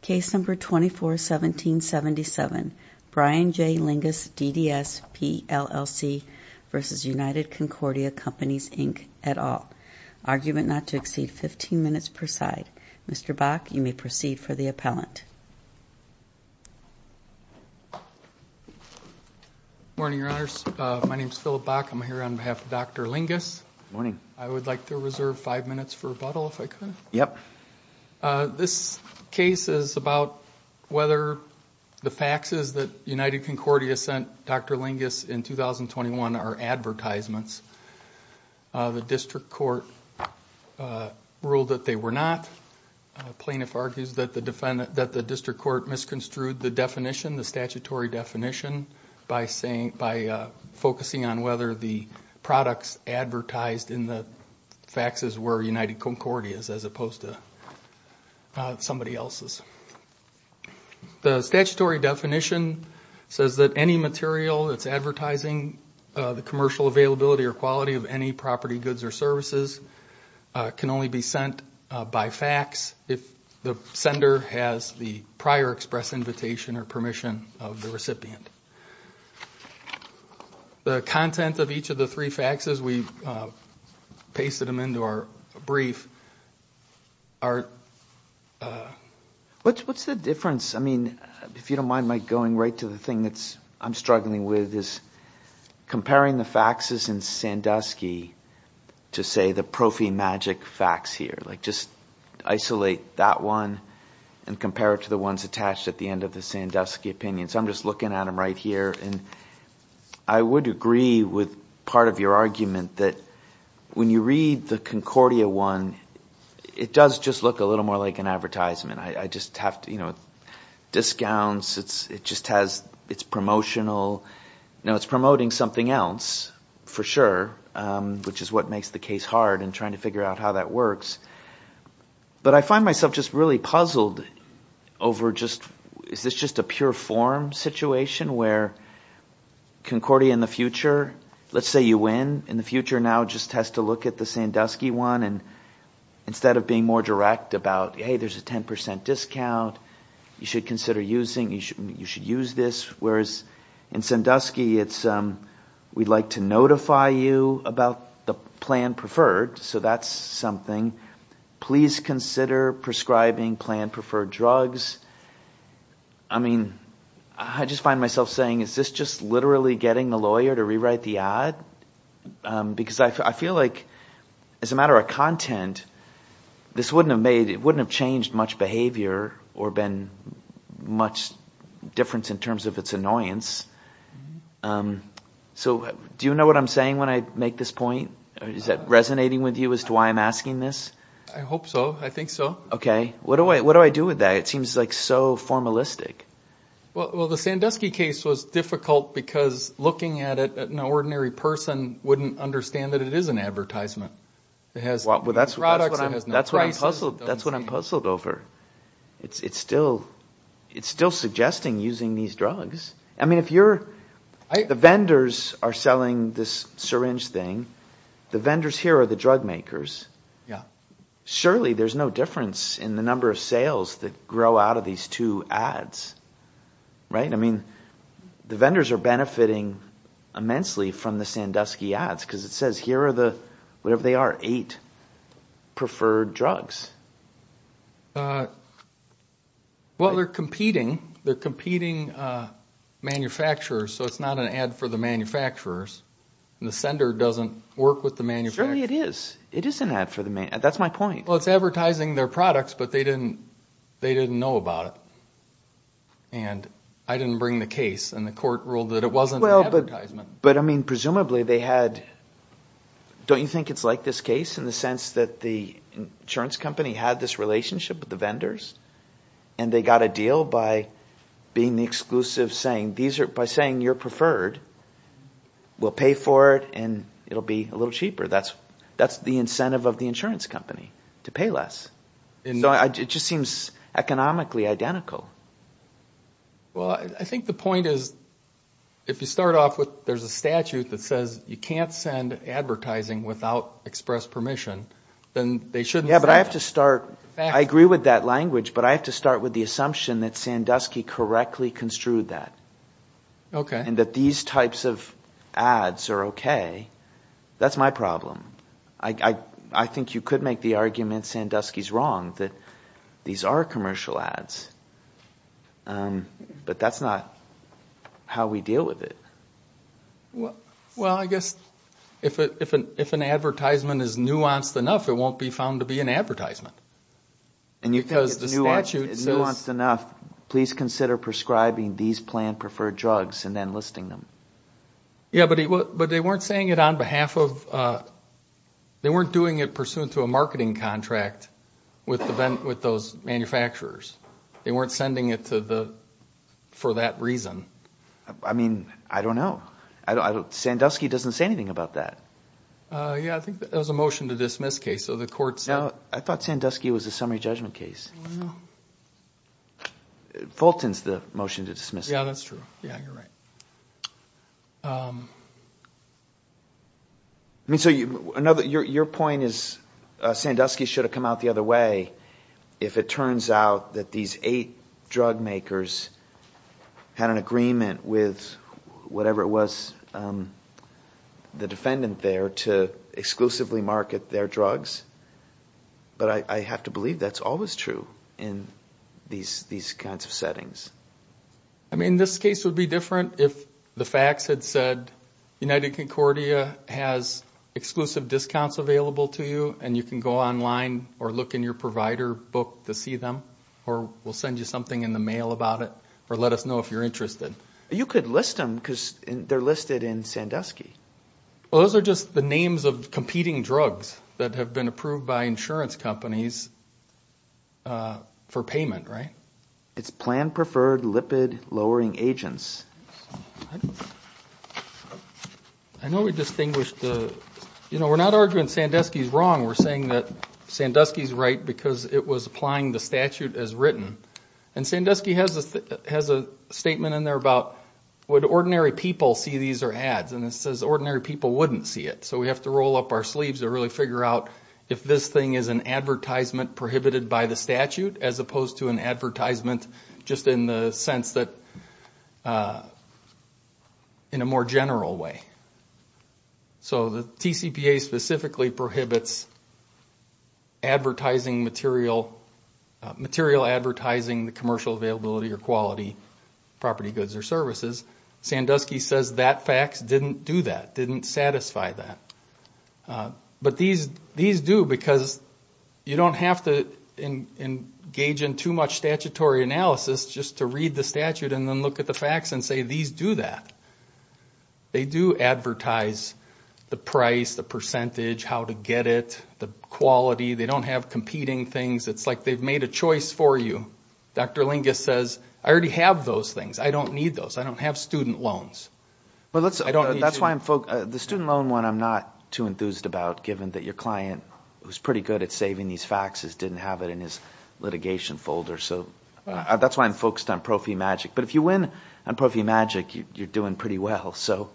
Case number 241777 Brian J Lyngaas DDS PLLC v. United Concordia Companies, Inc. et al. Argument not to exceed 15 minutes per side. Mr. Bock, you may proceed for the appellant. Good morning, Your Honors. My name is Philip Bock. I'm here on behalf of Dr. Lyngaas. Good morning. I would like to reserve five minutes for rebuttal, if I could. Yep. This case is about whether the faxes that United Concordia sent Dr. Lyngaas in 2021 are advertisements. The district court ruled that they were not. The plaintiff argues that the district court misconstrued the definition, the statutory definition, by focusing on whether the products advertised in the faxes were United Concordia's as opposed to somebody else's. The statutory definition says that any material that's advertising the commercial availability or quality of any property, goods, or services can only be sent by fax if the sender has the prior express invitation or permission of the recipient. The content of each of the three faxes, we've pasted them into our brief, are... What's the difference? I mean, if you don't mind, Mike, going right to the thing that I'm struggling with is comparing the faxes in Sandusky to, say, the ProfiMagic fax here. Like, just isolate that one and compare it to the ones attached at the end of the Sandusky opinion. So I'm just looking at them right here, and I would agree with part of your argument that when you read the Concordia one, it does just look a little more like an advertisement. I just have to – you know, discounts, it just has – it's promotional. Now, it's promoting something else for sure, which is what makes the case hard in trying to figure out how that works. But I find myself just really puzzled over just – is this just a pure form situation where Concordia in the future – let's say you win. In the future now, it just has to look at the Sandusky one, and instead of being more direct about, hey, there's a 10% discount, you should consider using – you should use this. Whereas in Sandusky, it's, we'd like to notify you about the plan preferred, so that's something. Please consider prescribing plan preferred drugs. I mean, I just find myself saying, is this just literally getting the lawyer to rewrite the ad? Because I feel like as a matter of content, this wouldn't have made – it wouldn't have changed much behavior or been much difference in terms of its annoyance. So do you know what I'm saying when I make this point? Is that resonating with you as to why I'm asking this? I hope so. I think so. OK. What do I do with that? It seems like so formalistic. Well, the Sandusky case was difficult because looking at it, an ordinary person wouldn't understand that it is an advertisement. Well, that's what I'm puzzled over. It's still suggesting using these drugs. I mean, if you're – the vendors are selling this syringe thing. The vendors here are the drug makers. Yeah. Surely there's no difference in the number of sales that grow out of these two ads, right? I mean the vendors are benefiting immensely from the Sandusky ads because it says here are the – whatever they are, eight preferred drugs. Well, they're competing. They're competing manufacturers, so it's not an ad for the manufacturers. The sender doesn't work with the manufacturer. Surely it is. It is an ad for the – that's my point. Well, it's advertising their products, but they didn't know about it. And I didn't bring the case and the court ruled that it wasn't an advertisement. But, I mean, presumably they had – don't you think it's like this case in the sense that the insurance company had this relationship with the vendors? And they got a deal by being the exclusive saying these are – by saying you're preferred, we'll pay for it and it will be a little cheaper. That's the incentive of the insurance company, to pay less. So it just seems economically identical. Well, I think the point is if you start off with there's a statute that says you can't send advertising without express permission, then they shouldn't send it. Yeah, but I have to start – I agree with that language, but I have to start with the assumption that Sandusky correctly construed that. Okay. And that these types of ads are okay. That's my problem. I think you could make the argument Sandusky's wrong, that these are commercial ads. But that's not how we deal with it. Well, I guess if an advertisement is nuanced enough, it won't be found to be an advertisement. And you think it's nuanced enough, please consider prescribing these planned preferred drugs and then listing them. Yeah, but they weren't saying it on behalf of – they weren't doing it pursuant to a marketing contract with those manufacturers. They weren't sending it to the – for that reason. I mean, I don't know. Sandusky doesn't say anything about that. Yeah, I think that was a motion to dismiss case, so the court said – No, I thought Sandusky was a summary judgment case. Oh, I know. Fulton's the motion to dismiss case. Yeah, that's true. Yeah, you're right. I mean, so your point is Sandusky should have come out the other way if it turns out that these eight drug makers had an agreement with whatever it was the defendant there to exclusively market their drugs. But I have to believe that's always true in these kinds of settings. I mean, this case would be different if the facts had said United Concordia has exclusive discounts available to you and you can go online or look in your provider book to see them or we'll send you something in the mail about it or let us know if you're interested. You could list them because they're listed in Sandusky. Well, those are just the names of competing drugs that have been approved by insurance companies for payment, right? It's planned preferred lipid-lowering agents. I know we distinguished the – you know, we're not arguing Sandusky's wrong. We're saying that Sandusky's right because it was applying the statute as written. And Sandusky has a statement in there about would ordinary people see these or ads, and it says ordinary people wouldn't see it. So we have to roll up our sleeves to really figure out if this thing is an advertisement prohibited by the statute as opposed to an advertisement just in the sense that – in a more general way. So the TCPA specifically prohibits advertising material, material advertising, commercial availability or quality, property goods or services. Sandusky says that fax didn't do that, didn't satisfy that. But these do because you don't have to engage in too much statutory analysis just to read the statute and then look at the fax and say these do that. They do advertise the price, the percentage, how to get it, the quality. They don't have competing things. It's like they've made a choice for you. Dr. Lingus says, I already have those things. I don't need those. I don't have student loans. Well, that's why I'm – the student loan one I'm not too enthused about given that your client, who's pretty good at saving these faxes, didn't have it in his litigation folder. So that's why I'm focused on ProfiMagic. But if you win on ProfiMagic, you're doing pretty well. So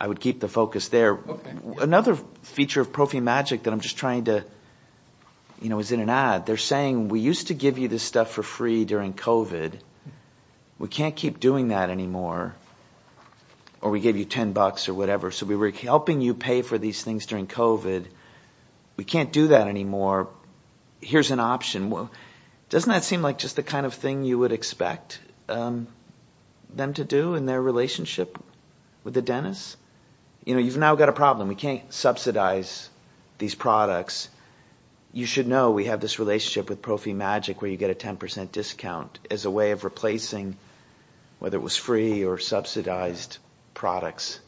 I would keep the focus there. Another feature of ProfiMagic that I'm just trying to – is in an ad. They're saying we used to give you this stuff for free during COVID. We can't keep doing that anymore. Or we gave you $10 or whatever. So we were helping you pay for these things during COVID. We can't do that anymore. Here's an option. Doesn't that seem like just the kind of thing you would expect them to do in their relationship with the dentist? You've now got a problem. We can't subsidize these products. You should know we have this relationship with ProfiMagic where you get a 10% discount as a way of replacing, whether it was free or subsidized products.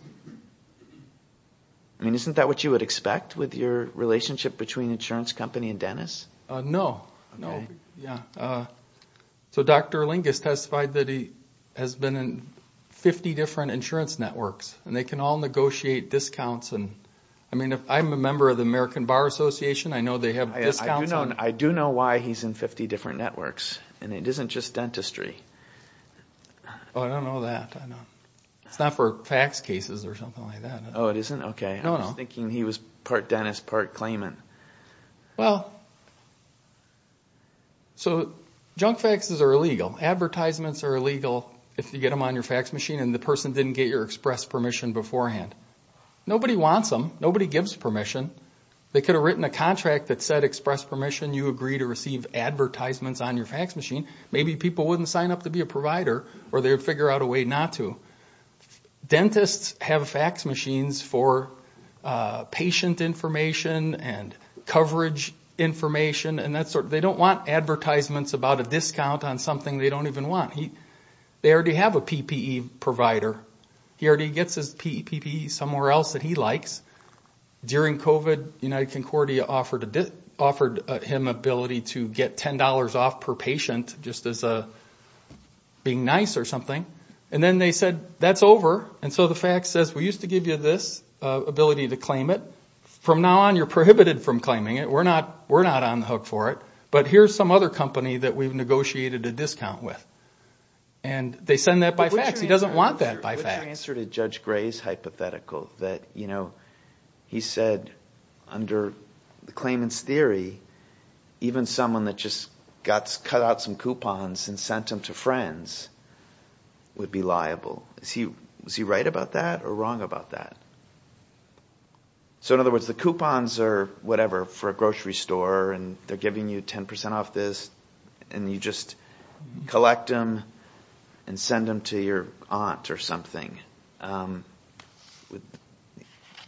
I mean, isn't that what you would expect with your relationship between insurance company and dentist? No. No. Yeah. So Dr. Lingus testified that he has been in 50 different insurance networks. And they can all negotiate discounts. I mean, I'm a member of the American Bar Association. I know they have discounts. I do know why he's in 50 different networks. And it isn't just dentistry. Oh, I don't know that. It's not for fax cases or something like that. Oh, it isn't? Okay. I was thinking he was part dentist, part claimant. Well, so junk faxes are illegal. Advertisements are illegal if you get them on your fax machine and the person didn't get your express permission beforehand. Nobody wants them. Nobody gives permission. They could have written a contract that said express permission, you agree to receive advertisements on your fax machine. Maybe people wouldn't sign up to be a provider or they would figure out a way not to. Dentists have fax machines for patient information and coverage information. They don't want advertisements about a discount on something they don't even want. They already have a PPE provider. He already gets his PPE somewhere else that he likes. During COVID, United Concordia offered him ability to get $10 off per patient just as being nice or something. And then they said, that's over. And so the fax says, we used to give you this ability to claim it. From now on, you're prohibited from claiming it. We're not on the hook for it. But here's some other company that we've negotiated a discount with. And they send that by fax. He doesn't want that by fax. What's your answer to Judge Gray's hypothetical that he said under the claimant's theory, even someone that just cut out some coupons and sent them to friends would be liable? Was he right about that or wrong about that? So in other words, the coupons are whatever, for a grocery store, and they're giving you 10% off this, and you just collect them and send them to your aunt or something. Would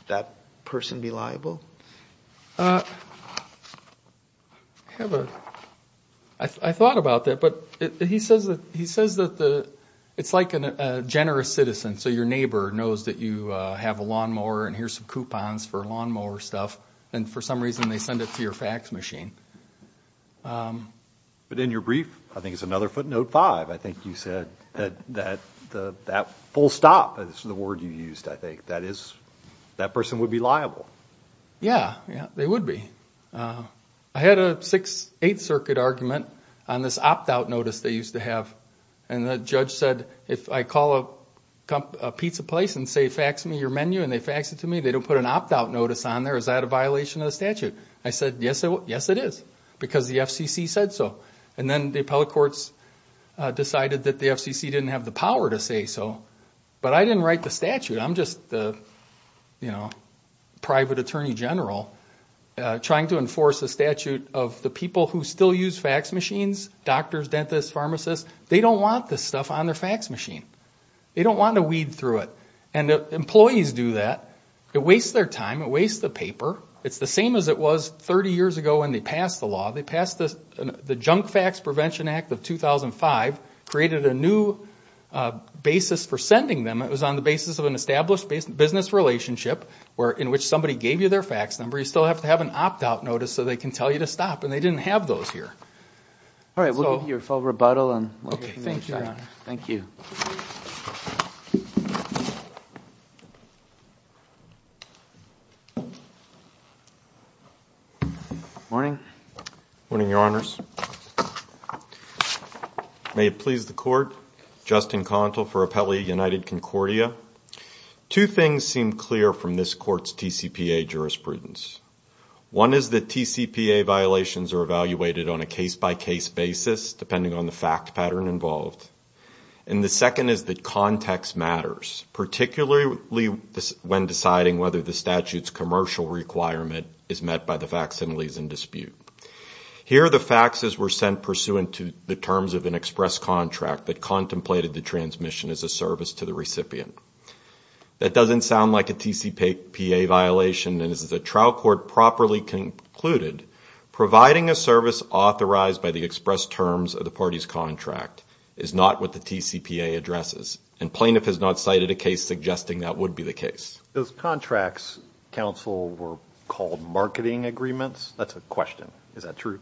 that person be liable? I thought about that. But he says that it's like a generous citizen. So your neighbor knows that you have a lawnmower, and here's some coupons for lawnmower stuff. And for some reason, they send it to your fax machine. But in your brief, I think it's another footnote five. I think you said that full stop is the word you used, I think. That person would be liable. Yeah, they would be. I had a Sixth Circuit argument on this opt-out notice they used to have. And the judge said if I call a pizza place and say fax me your menu and they fax it to me, they don't put an opt-out notice on there, is that a violation of the statute? I said, yes, it is, because the FCC said so. And then the appellate courts decided that the FCC didn't have the power to say so. But I didn't write the statute. I'm just the private attorney general trying to enforce a statute of the people who still use fax machines, doctors, dentists, pharmacists, they don't want this stuff on their fax machine. They don't want to weed through it. And employees do that. It wastes their time. It wastes the paper. It's the same as it was 30 years ago when they passed the law. They passed the Junk Fax Prevention Act of 2005, created a new basis for sending them. It was on the basis of an established business relationship in which somebody gave you their fax number. You still have to have an opt-out notice so they can tell you to stop. And they didn't have those here. All right, we'll give you a full rebuttal. Thank you, Your Honor. Thank you. Good morning. Good morning, Your Honors. May it please the Court, Justin Contal for Appellee United Concordia. Two things seem clear from this Court's TCPA jurisprudence. One is that TCPA violations are evaluated on a case-by-case basis, depending on the fact pattern involved. And the second is that context matters, particularly when deciding whether the statute's commercial requirement is met by the facsimiles in dispute. Here, the faxes were sent pursuant to the terms of an express contract that contemplated the transmission as a service to the recipient. That doesn't sound like a TCPA violation, and as the trial court properly concluded, providing a service authorized by the express terms of the party's contract is not what the TCPA addresses. And plaintiff has not cited a case suggesting that would be the case. Those contracts, counsel, were called marketing agreements? That's a question. Is that true?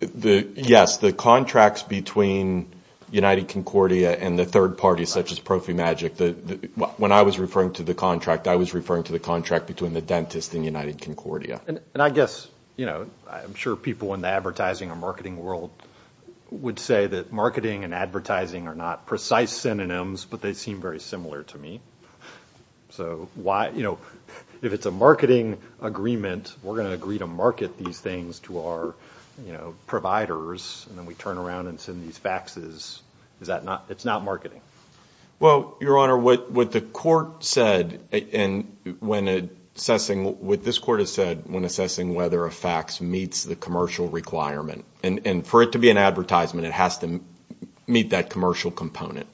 Yes, the contracts between United Concordia and the third party, such as ProfiMagic, when I was referring to the contract, I was referring to the contract between the dentist and United Concordia. And I guess, you know, I'm sure people in the advertising and marketing world would say that marketing and advertising are not precise synonyms, but they seem very similar to me. So, you know, if it's a marketing agreement, we're going to agree to market these things to our, you know, providers, and then we turn around and send these faxes. It's not marketing. Well, Your Honor, what the court said when assessing whether a fax meets the commercial requirement, and for it to be an advertisement, it has to meet that commercial component.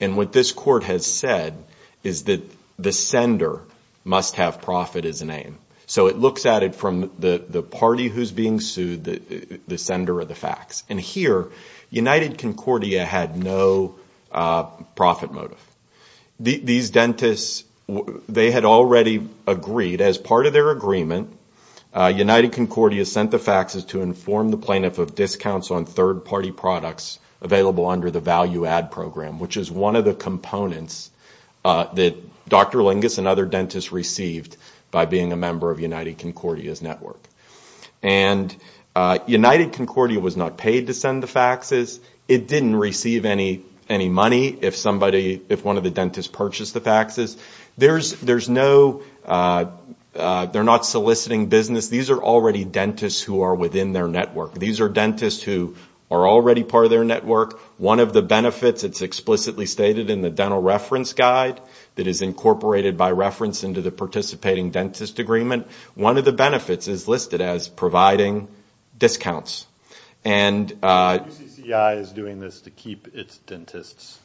And what this court has said is that the sender must have profit as a name. So it looks at it from the party who's being sued, the sender of the fax. And here, United Concordia had no profit motive. These dentists, they had already agreed, as part of their agreement, United Concordia sent the faxes to inform the plaintiff of discounts on third party products available under the value add program, which is one of the components that Dr. Lingus and other dentists received by being a member of United Concordia's network. And United Concordia was not paid to send the faxes. It didn't receive any money if somebody, if one of the dentists purchased the faxes. There's no, they're not soliciting business. These are already dentists who are within their network. These are dentists who are already part of their network. One of the benefits, it's explicitly stated in the dental reference guide that is incorporated by reference into the participating dentist agreement. One of the benefits is listed as providing discounts. And the UCCI is doing this to keep its dentists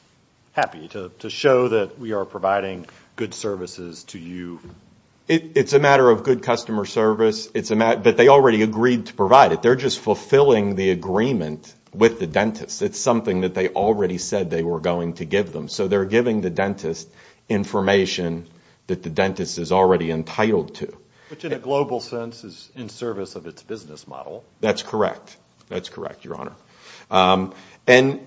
happy, to show that we are providing good services to you. It's a matter of good customer service. It's a matter, but they already agreed to provide it. They're just fulfilling the agreement with the dentist. It's something that they already said they were going to give them. So they're giving the dentist information that the dentist is already entitled to. Which in a global sense is in service of its business model. That's correct. That's correct, Your Honor. And,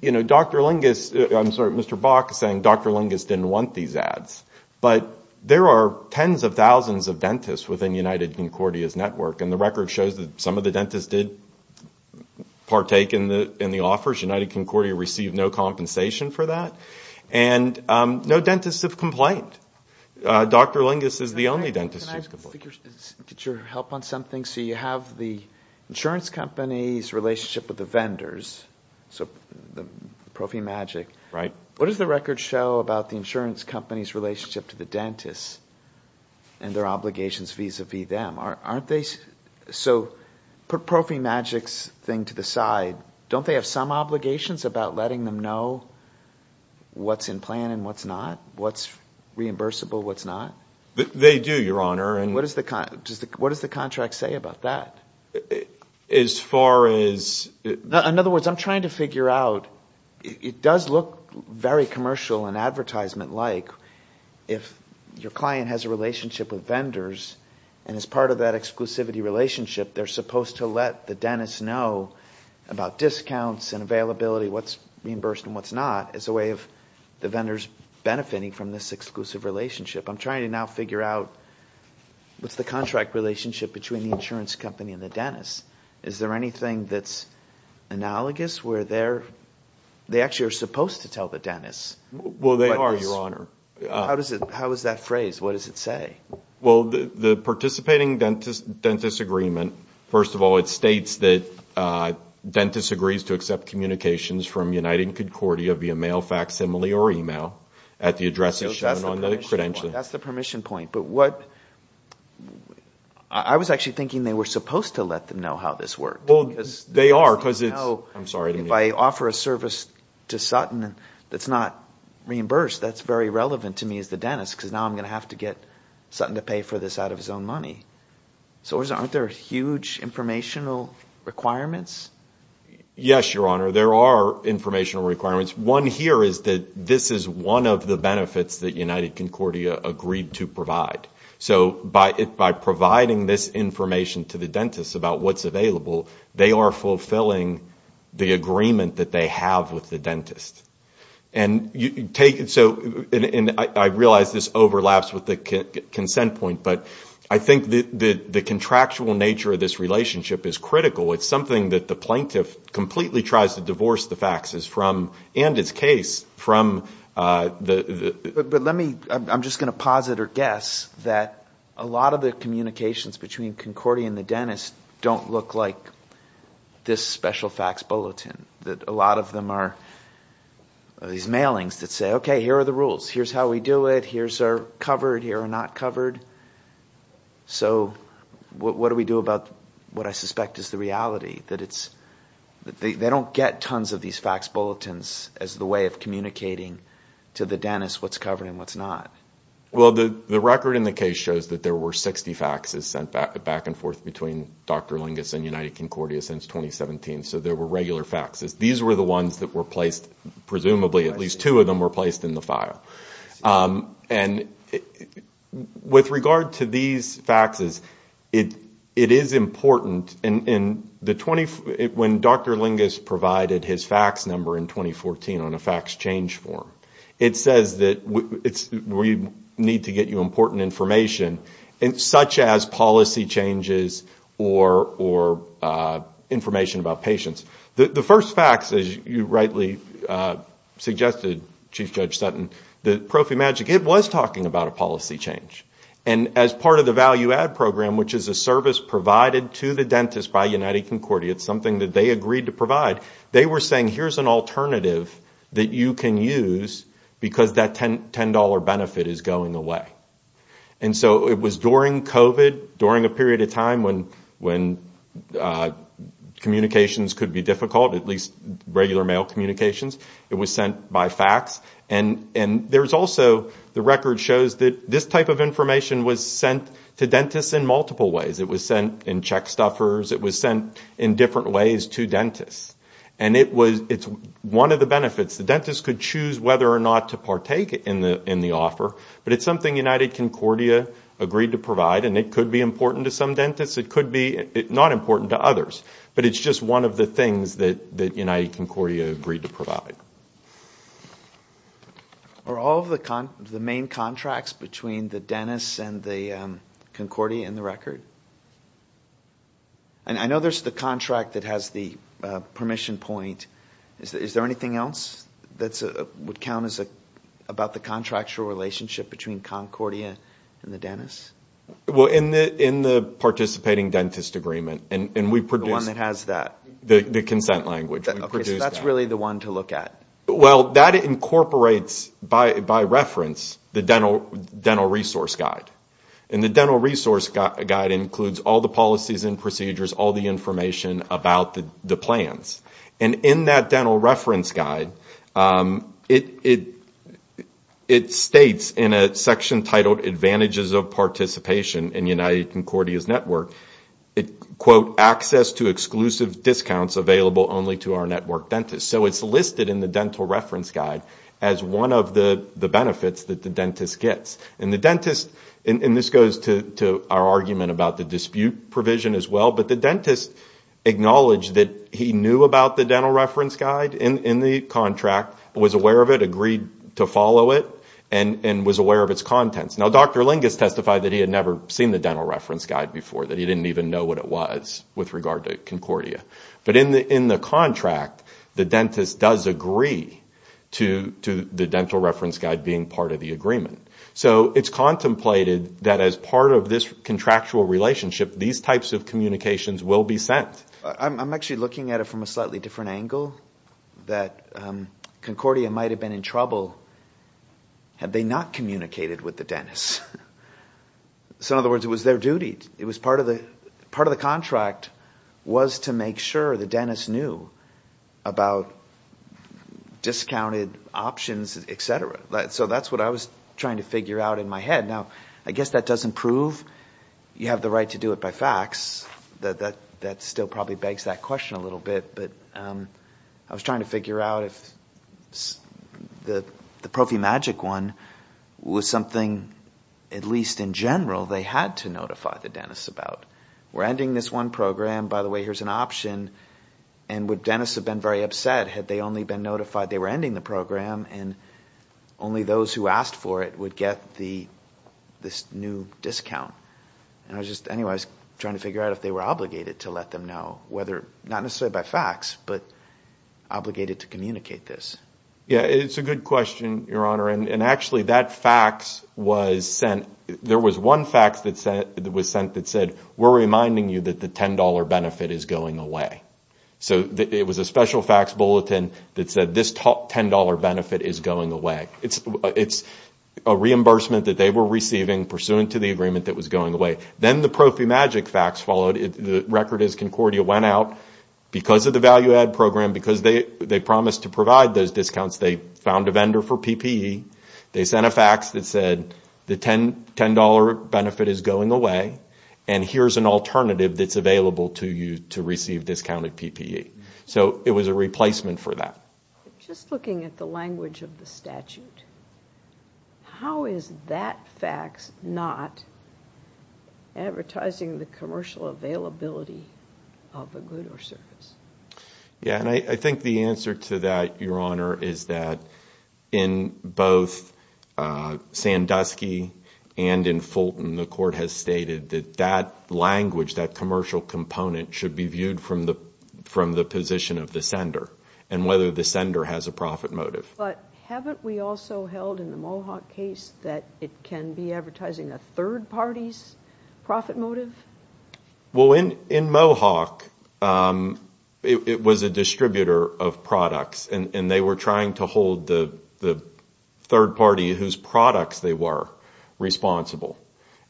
you know, Dr. Lingus, I'm sorry, Mr. Bach is saying Dr. Lingus didn't want these ads. But there are tens of thousands of dentists within United Concordia's network. And the record shows that some of the dentists did partake in the offers. United Concordia received no compensation for that. And no dentists have complained. Dr. Lingus is the only dentist who has complained. Can I get your help on something? So you have the insurance company's relationship with the vendors, so the ProfiMagic. Right. What does the record show about the insurance company's relationship to the dentists and their obligations vis-à-vis them? So put ProfiMagic's thing to the side. Don't they have some obligations about letting them know what's in plan and what's not, what's reimbursable, what's not? They do, Your Honor. And what does the contract say about that? As far as – In other words, I'm trying to figure out – it does look very commercial and advertisement-like. If your client has a relationship with vendors and is part of that exclusivity relationship, they're supposed to let the dentist know about discounts and availability, what's reimbursed and what's not, as a way of the vendors benefiting from this exclusive relationship. I'm trying to now figure out what's the contract relationship between the insurance company and the dentist. Is there anything that's analogous where they're – they actually are supposed to tell the dentist. Well, they are, Your Honor. How is that phrased? What does it say? Well, the participating dentist agreement, first of all, it states that dentist agrees to accept communications from United and Concordia via mail, facsimile or email at the address that's shown on the credential. That's the permission point. But what – I was actually thinking they were supposed to let them know how this worked. Well, they are because it's – I'm sorry. If I offer a service to Sutton that's not reimbursed, that's very relevant to me as the dentist because now I'm going to have to get Sutton to pay for this out of his own money. So aren't there huge informational requirements? Yes, Your Honor. There are informational requirements. One here is that this is one of the benefits that United Concordia agreed to provide. So by providing this information to the dentist about what's available, they are fulfilling the agreement that they have with the dentist. And you take – so I realize this overlaps with the consent point, but I think the contractual nature of this relationship is critical. It's something that the plaintiff completely tries to divorce the faxes from and its case from the – But let me – I'm just going to posit or guess that a lot of the communications between Concordia and the dentist don't look like this special fax bulletin, that a lot of them are these mailings that say, okay, here are the rules. Here's how we do it. Here's our covered. Here are not covered. So what do we do about what I suspect is the reality? That it's – they don't get tons of these fax bulletins as the way of communicating to the dentist what's covered and what's not. Well, the record in the case shows that there were 60 faxes sent back and forth between Dr. Lingus and United Concordia since 2017. So there were regular faxes. These were the ones that were placed – presumably at least two of them were placed in the file. And with regard to these faxes, it is important in the – when Dr. Lingus provided his fax number in 2014 on a fax change form, it says that we need to get you important information such as policy changes or information about patients. The first fax, as you rightly suggested, Chief Judge Sutton, the ProfiMagic, it was talking about a policy change. And as part of the value-add program, which is a service provided to the dentist by United Concordia, it's something that they agreed to provide, they were saying here's an alternative that you can use because that $10 benefit is going away. And so it was during COVID, during a period of time when communications could be difficult, at least regular mail communications, it was sent by fax. And there's also – the record shows that this type of information was sent to dentists in multiple ways. It was sent in check stuffers. It was sent in different ways to dentists. And it was – it's one of the benefits. The dentist could choose whether or not to partake in the offer, but it's something United Concordia agreed to provide, and it could be important to some dentists. It could be not important to others, but it's just one of the things that United Concordia agreed to provide. Are all of the main contracts between the dentist and the Concordia in the record? And I know there's the contract that has the permission point. Is there anything else that would count as about the contractual relationship between Concordia and the dentist? Well, in the participating dentist agreement, and we produced – The one that has that. The consent language. Okay, so that's really the one to look at. Well, that incorporates, by reference, the dental resource guide. And the dental resource guide includes all the policies and procedures, all the information about the plans. And in that dental reference guide, it states in a section titled, Advantages of Participation in United Concordia's Network, quote, access to exclusive discounts available only to our network dentists. So it's listed in the dental reference guide as one of the benefits that the dentist gets. And the dentist – and this goes to our argument about the dispute provision as well, but the dentist acknowledged that he knew about the dental reference guide in the contract, was aware of it, agreed to follow it, and was aware of its contents. Now, Dr. Lingus testified that he had never seen the dental reference guide before, that he didn't even know what it was with regard to Concordia. But in the contract, the dentist does agree to the dental reference guide being part of the agreement. So it's contemplated that as part of this contractual relationship, these types of communications will be sent. I'm actually looking at it from a slightly different angle, that Concordia might have been in trouble had they not communicated with the dentist. So in other words, it was their duty. Part of the contract was to make sure the dentist knew about discounted options, et cetera. So that's what I was trying to figure out in my head. Now, I guess that doesn't prove you have the right to do it by fax. That still probably begs that question a little bit. But I was trying to figure out if the ProfiMagic one was something, at least in general, they had to notify the dentist about. We're ending this one program. By the way, here's an option. And would dentists have been very upset had they only been notified they were ending the program? And only those who asked for it would get this new discount. Anyway, I was trying to figure out if they were obligated to let them know, not necessarily by fax, but obligated to communicate this. Yeah, it's a good question, Your Honor. And actually, that fax was sent. There was one fax that was sent that said, we're reminding you that the $10 benefit is going away. So it was a special fax bulletin that said, this $10 benefit is going away. It's a reimbursement that they were receiving pursuant to the agreement that was going away. Then the ProfiMagic fax followed. The record is Concordia went out. Because of the value-add program, because they promised to provide those discounts, they found a vendor for PPE. They sent a fax that said, the $10 benefit is going away. And here's an alternative that's available to you to receive discounted PPE. So it was a replacement for that. Just looking at the language of the statute, how is that fax not advertising the commercial availability of a good or service? Yeah, and I think the answer to that, Your Honor, is that in both Sandusky and in Fulton, the Court has stated that that language, that commercial component, should be viewed from the position of the sender and whether the sender has a profit motive. But haven't we also held in the Mohawk case that it can be advertising a third party's profit motive? Well, in Mohawk, it was a distributor of products. And they were trying to hold the third party whose products they were responsible.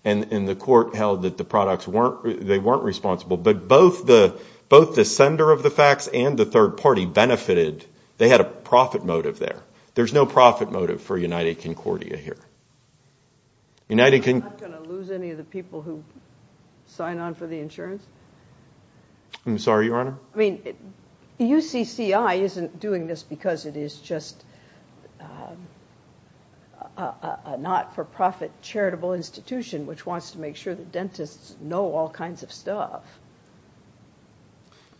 And the Court held that the products weren't responsible. But both the sender of the fax and the third party benefited. They had a profit motive there. There's no profit motive for United Concordia here. I'm not going to lose any of the people who sign on for the insurance? I'm sorry, Your Honor? I mean, UCCI isn't doing this because it is just a not-for-profit charitable institution which wants to make sure that dentists know all kinds of stuff,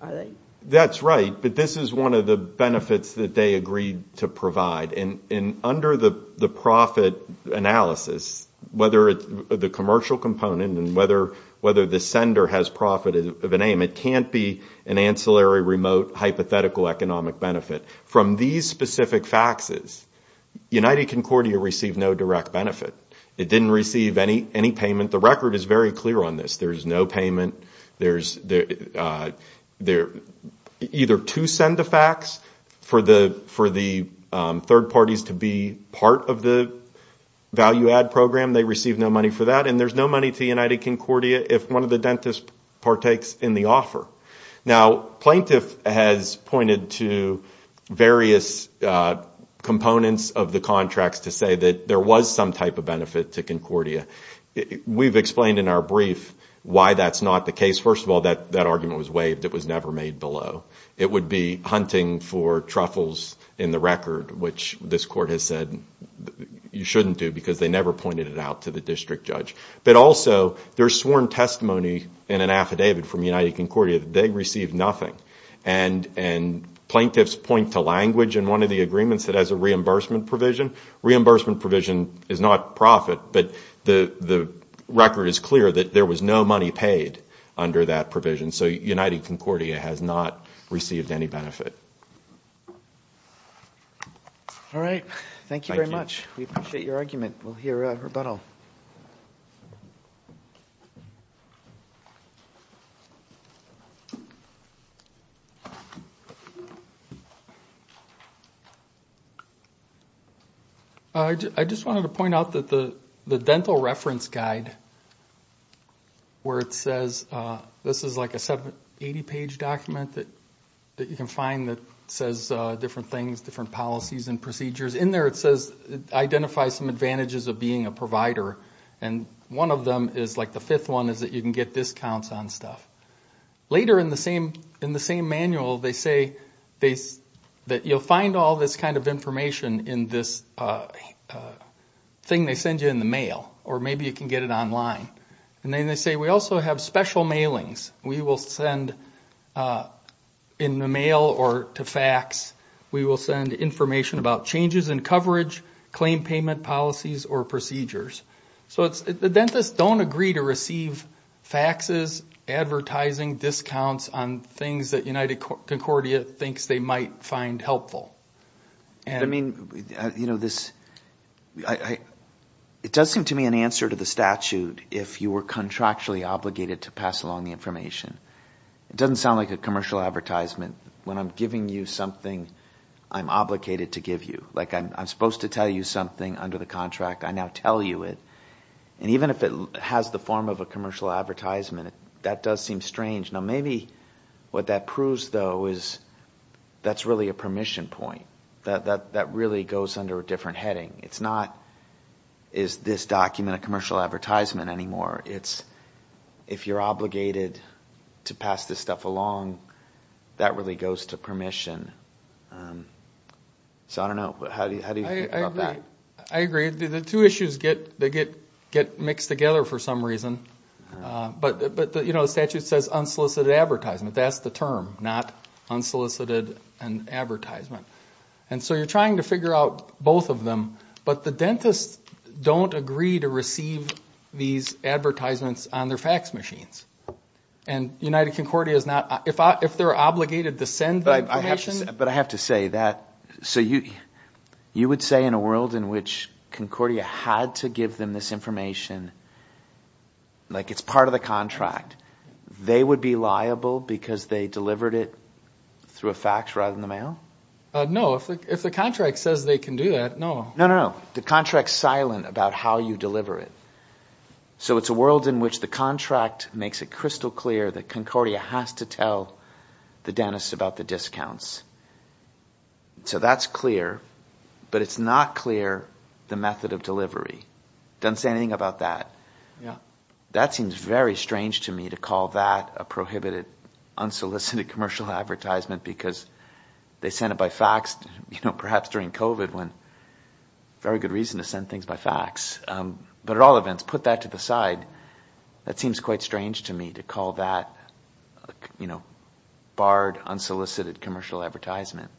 are they? That's right. But this is one of the benefits that they agreed to provide. And under the profit analysis, whether the commercial component and whether the sender has profit of a name, it can't be an ancillary remote hypothetical economic benefit. From these specific faxes, United Concordia received no direct benefit. It didn't receive any payment. The record is very clear on this. There's no payment. Either to send a fax for the third parties to be part of the value-add program, they receive no money for that, and there's no money to United Concordia if one of the dentists partakes in the offer. Now, plaintiff has pointed to various components of the contracts to say that there was some type of benefit to Concordia. We've explained in our brief why that's not the case. First of all, that argument was waived. It was never made below. It would be hunting for truffles in the record, which this court has said you shouldn't do because they never pointed it out to the district judge. But also, there's sworn testimony in an affidavit from United Concordia that they received nothing, and plaintiffs point to language in one of the agreements that has a reimbursement provision. Reimbursement provision is not profit, but the record is clear that there was no money paid under that provision, so United Concordia has not received any benefit. All right. Thank you very much. We appreciate your argument. We'll hear a rebuttal. I just wanted to point out that the dental reference guide, where it says this is like a 780-page document that you can find that says different things, different policies and procedures. In there it says identify some advantages of being a provider, and one of them is like the fifth one is that you can get discounts on stuff. Later in the same manual they say that you'll find all this kind of information in this thing they send you in the mail, or maybe you can get it online. And then they say we also have special mailings. We will send in the mail or to fax, we will send information about changes in coverage, claim payment policies or procedures. So the dentists don't agree to receive faxes, advertising, discounts on things that United Concordia thinks they might find helpful. But, I mean, this – it does seem to me an answer to the statute if you were contractually obligated to pass along the information. It doesn't sound like a commercial advertisement. When I'm giving you something, I'm obligated to give you. Like I'm supposed to tell you something under the contract. I now tell you it. And even if it has the form of a commercial advertisement, that does seem strange. Now maybe what that proves, though, is that's really a permission point. That really goes under a different heading. It's not, is this document a commercial advertisement anymore? It's if you're obligated to pass this stuff along, that really goes to permission. So I don't know. How do you think about that? I agree. The two issues get mixed together for some reason. But, you know, the statute says unsolicited advertisement. That's the term, not unsolicited advertisement. And so you're trying to figure out both of them. But the dentists don't agree to receive these advertisements on their fax machines. And United Concordia is not – if they're obligated to send the information – Like it's part of the contract. They would be liable because they delivered it through a fax rather than the mail? No, if the contract says they can do that, no. No, no, no. The contract's silent about how you deliver it. So it's a world in which the contract makes it crystal clear that Concordia has to tell the dentist about the discounts. So that's clear. But it's not clear the method of delivery. It doesn't say anything about that. Yeah. That seems very strange to me to call that a prohibited unsolicited commercial advertisement because they send it by fax, you know, perhaps during COVID when – very good reason to send things by fax. But at all events, put that to the side. That seems quite strange to me to call that, you know, barred unsolicited commercial advertisement.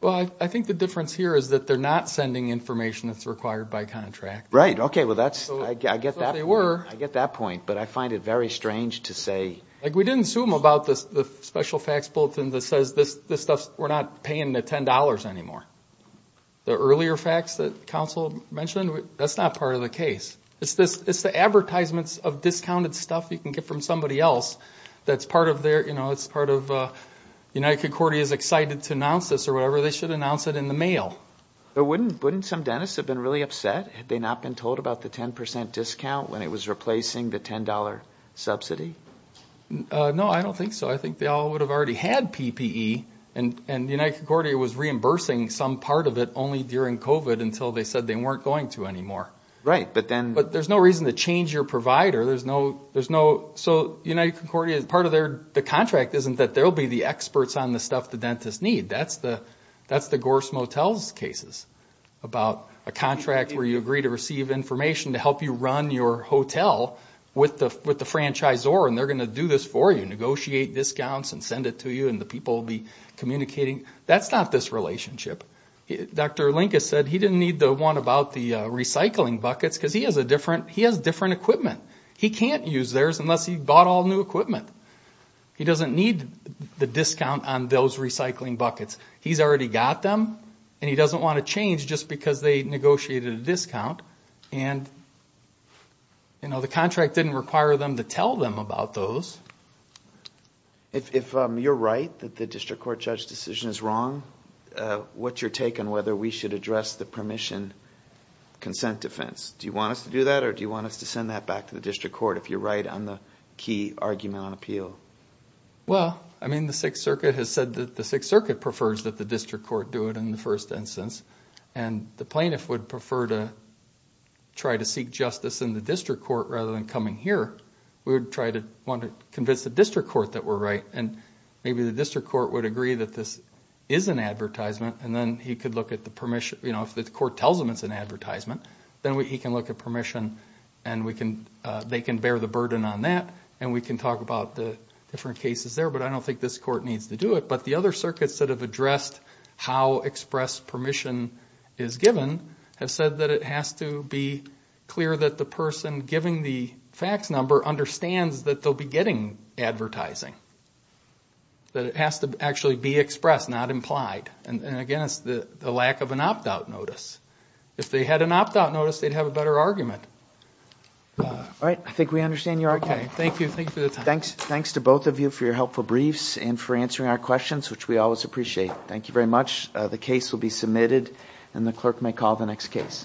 Well, I think the difference here is that they're not sending information that's required by contract. Right. Okay. Well, that's – I get that point. I get that point. But I find it very strange to say – Like we didn't assume about the special fax bulletin that says this stuff, we're not paying the $10 anymore. The earlier fax that counsel mentioned, that's not part of the case. It's the advertisements of discounted stuff you can get from somebody else that's part of their, you know, it's part of United Concordia's excited to announce this or whatever. They should announce it in the mail. Wouldn't some dentists have been really upset had they not been told about the 10% discount when it was replacing the $10 subsidy? No, I don't think so. I think they all would have already had PPE, and United Concordia was reimbursing some part of it only during COVID until they said they weren't going to anymore. Right, but then – But there's no reason to change your provider. There's no – so United Concordia, part of their – the contract isn't that they'll be the experts on the stuff the dentists need. That's the Gorse Motels cases about a contract where you agree to receive information to help you run your hotel with the franchisor, and they're going to do this for you, negotiate discounts and send it to you, and the people will be communicating. That's not this relationship. Dr. Lincas said he didn't need the one about the recycling buckets because he has different equipment. He can't use theirs unless he bought all new equipment. He doesn't need the discount on those recycling buckets. He's already got them, and he doesn't want to change just because they negotiated a discount, and the contract didn't require them to tell them about those. If you're right that the district court judge decision is wrong, what's your take on whether we should address the permission consent defense? Do you want us to do that, or do you want us to send that back to the district court if you're right on the key argument on appeal? Well, I mean, the Sixth Circuit has said that the Sixth Circuit prefers that the district court do it in the first instance, and the plaintiff would prefer to try to seek justice in the district court rather than coming here. We would try to convince the district court that we're right, and maybe the district court would agree that this is an advertisement, and then he could look at the permission. If the court tells him it's an advertisement, then he can look at permission, and they can bear the burden on that, and we can talk about the different cases there. But I don't think this court needs to do it. But the other circuits that have addressed how express permission is given have said that it has to be clear that the person giving the fax number understands that they'll be getting advertising, that it has to actually be expressed, not implied. And again, it's the lack of an opt-out notice. If they had an opt-out notice, they'd have a better argument. All right, I think we understand your argument. Thank you. Thanks to both of you for your helpful briefs and for answering our questions, which we always appreciate. Thank you very much. The case will be submitted, and the clerk may call the next case.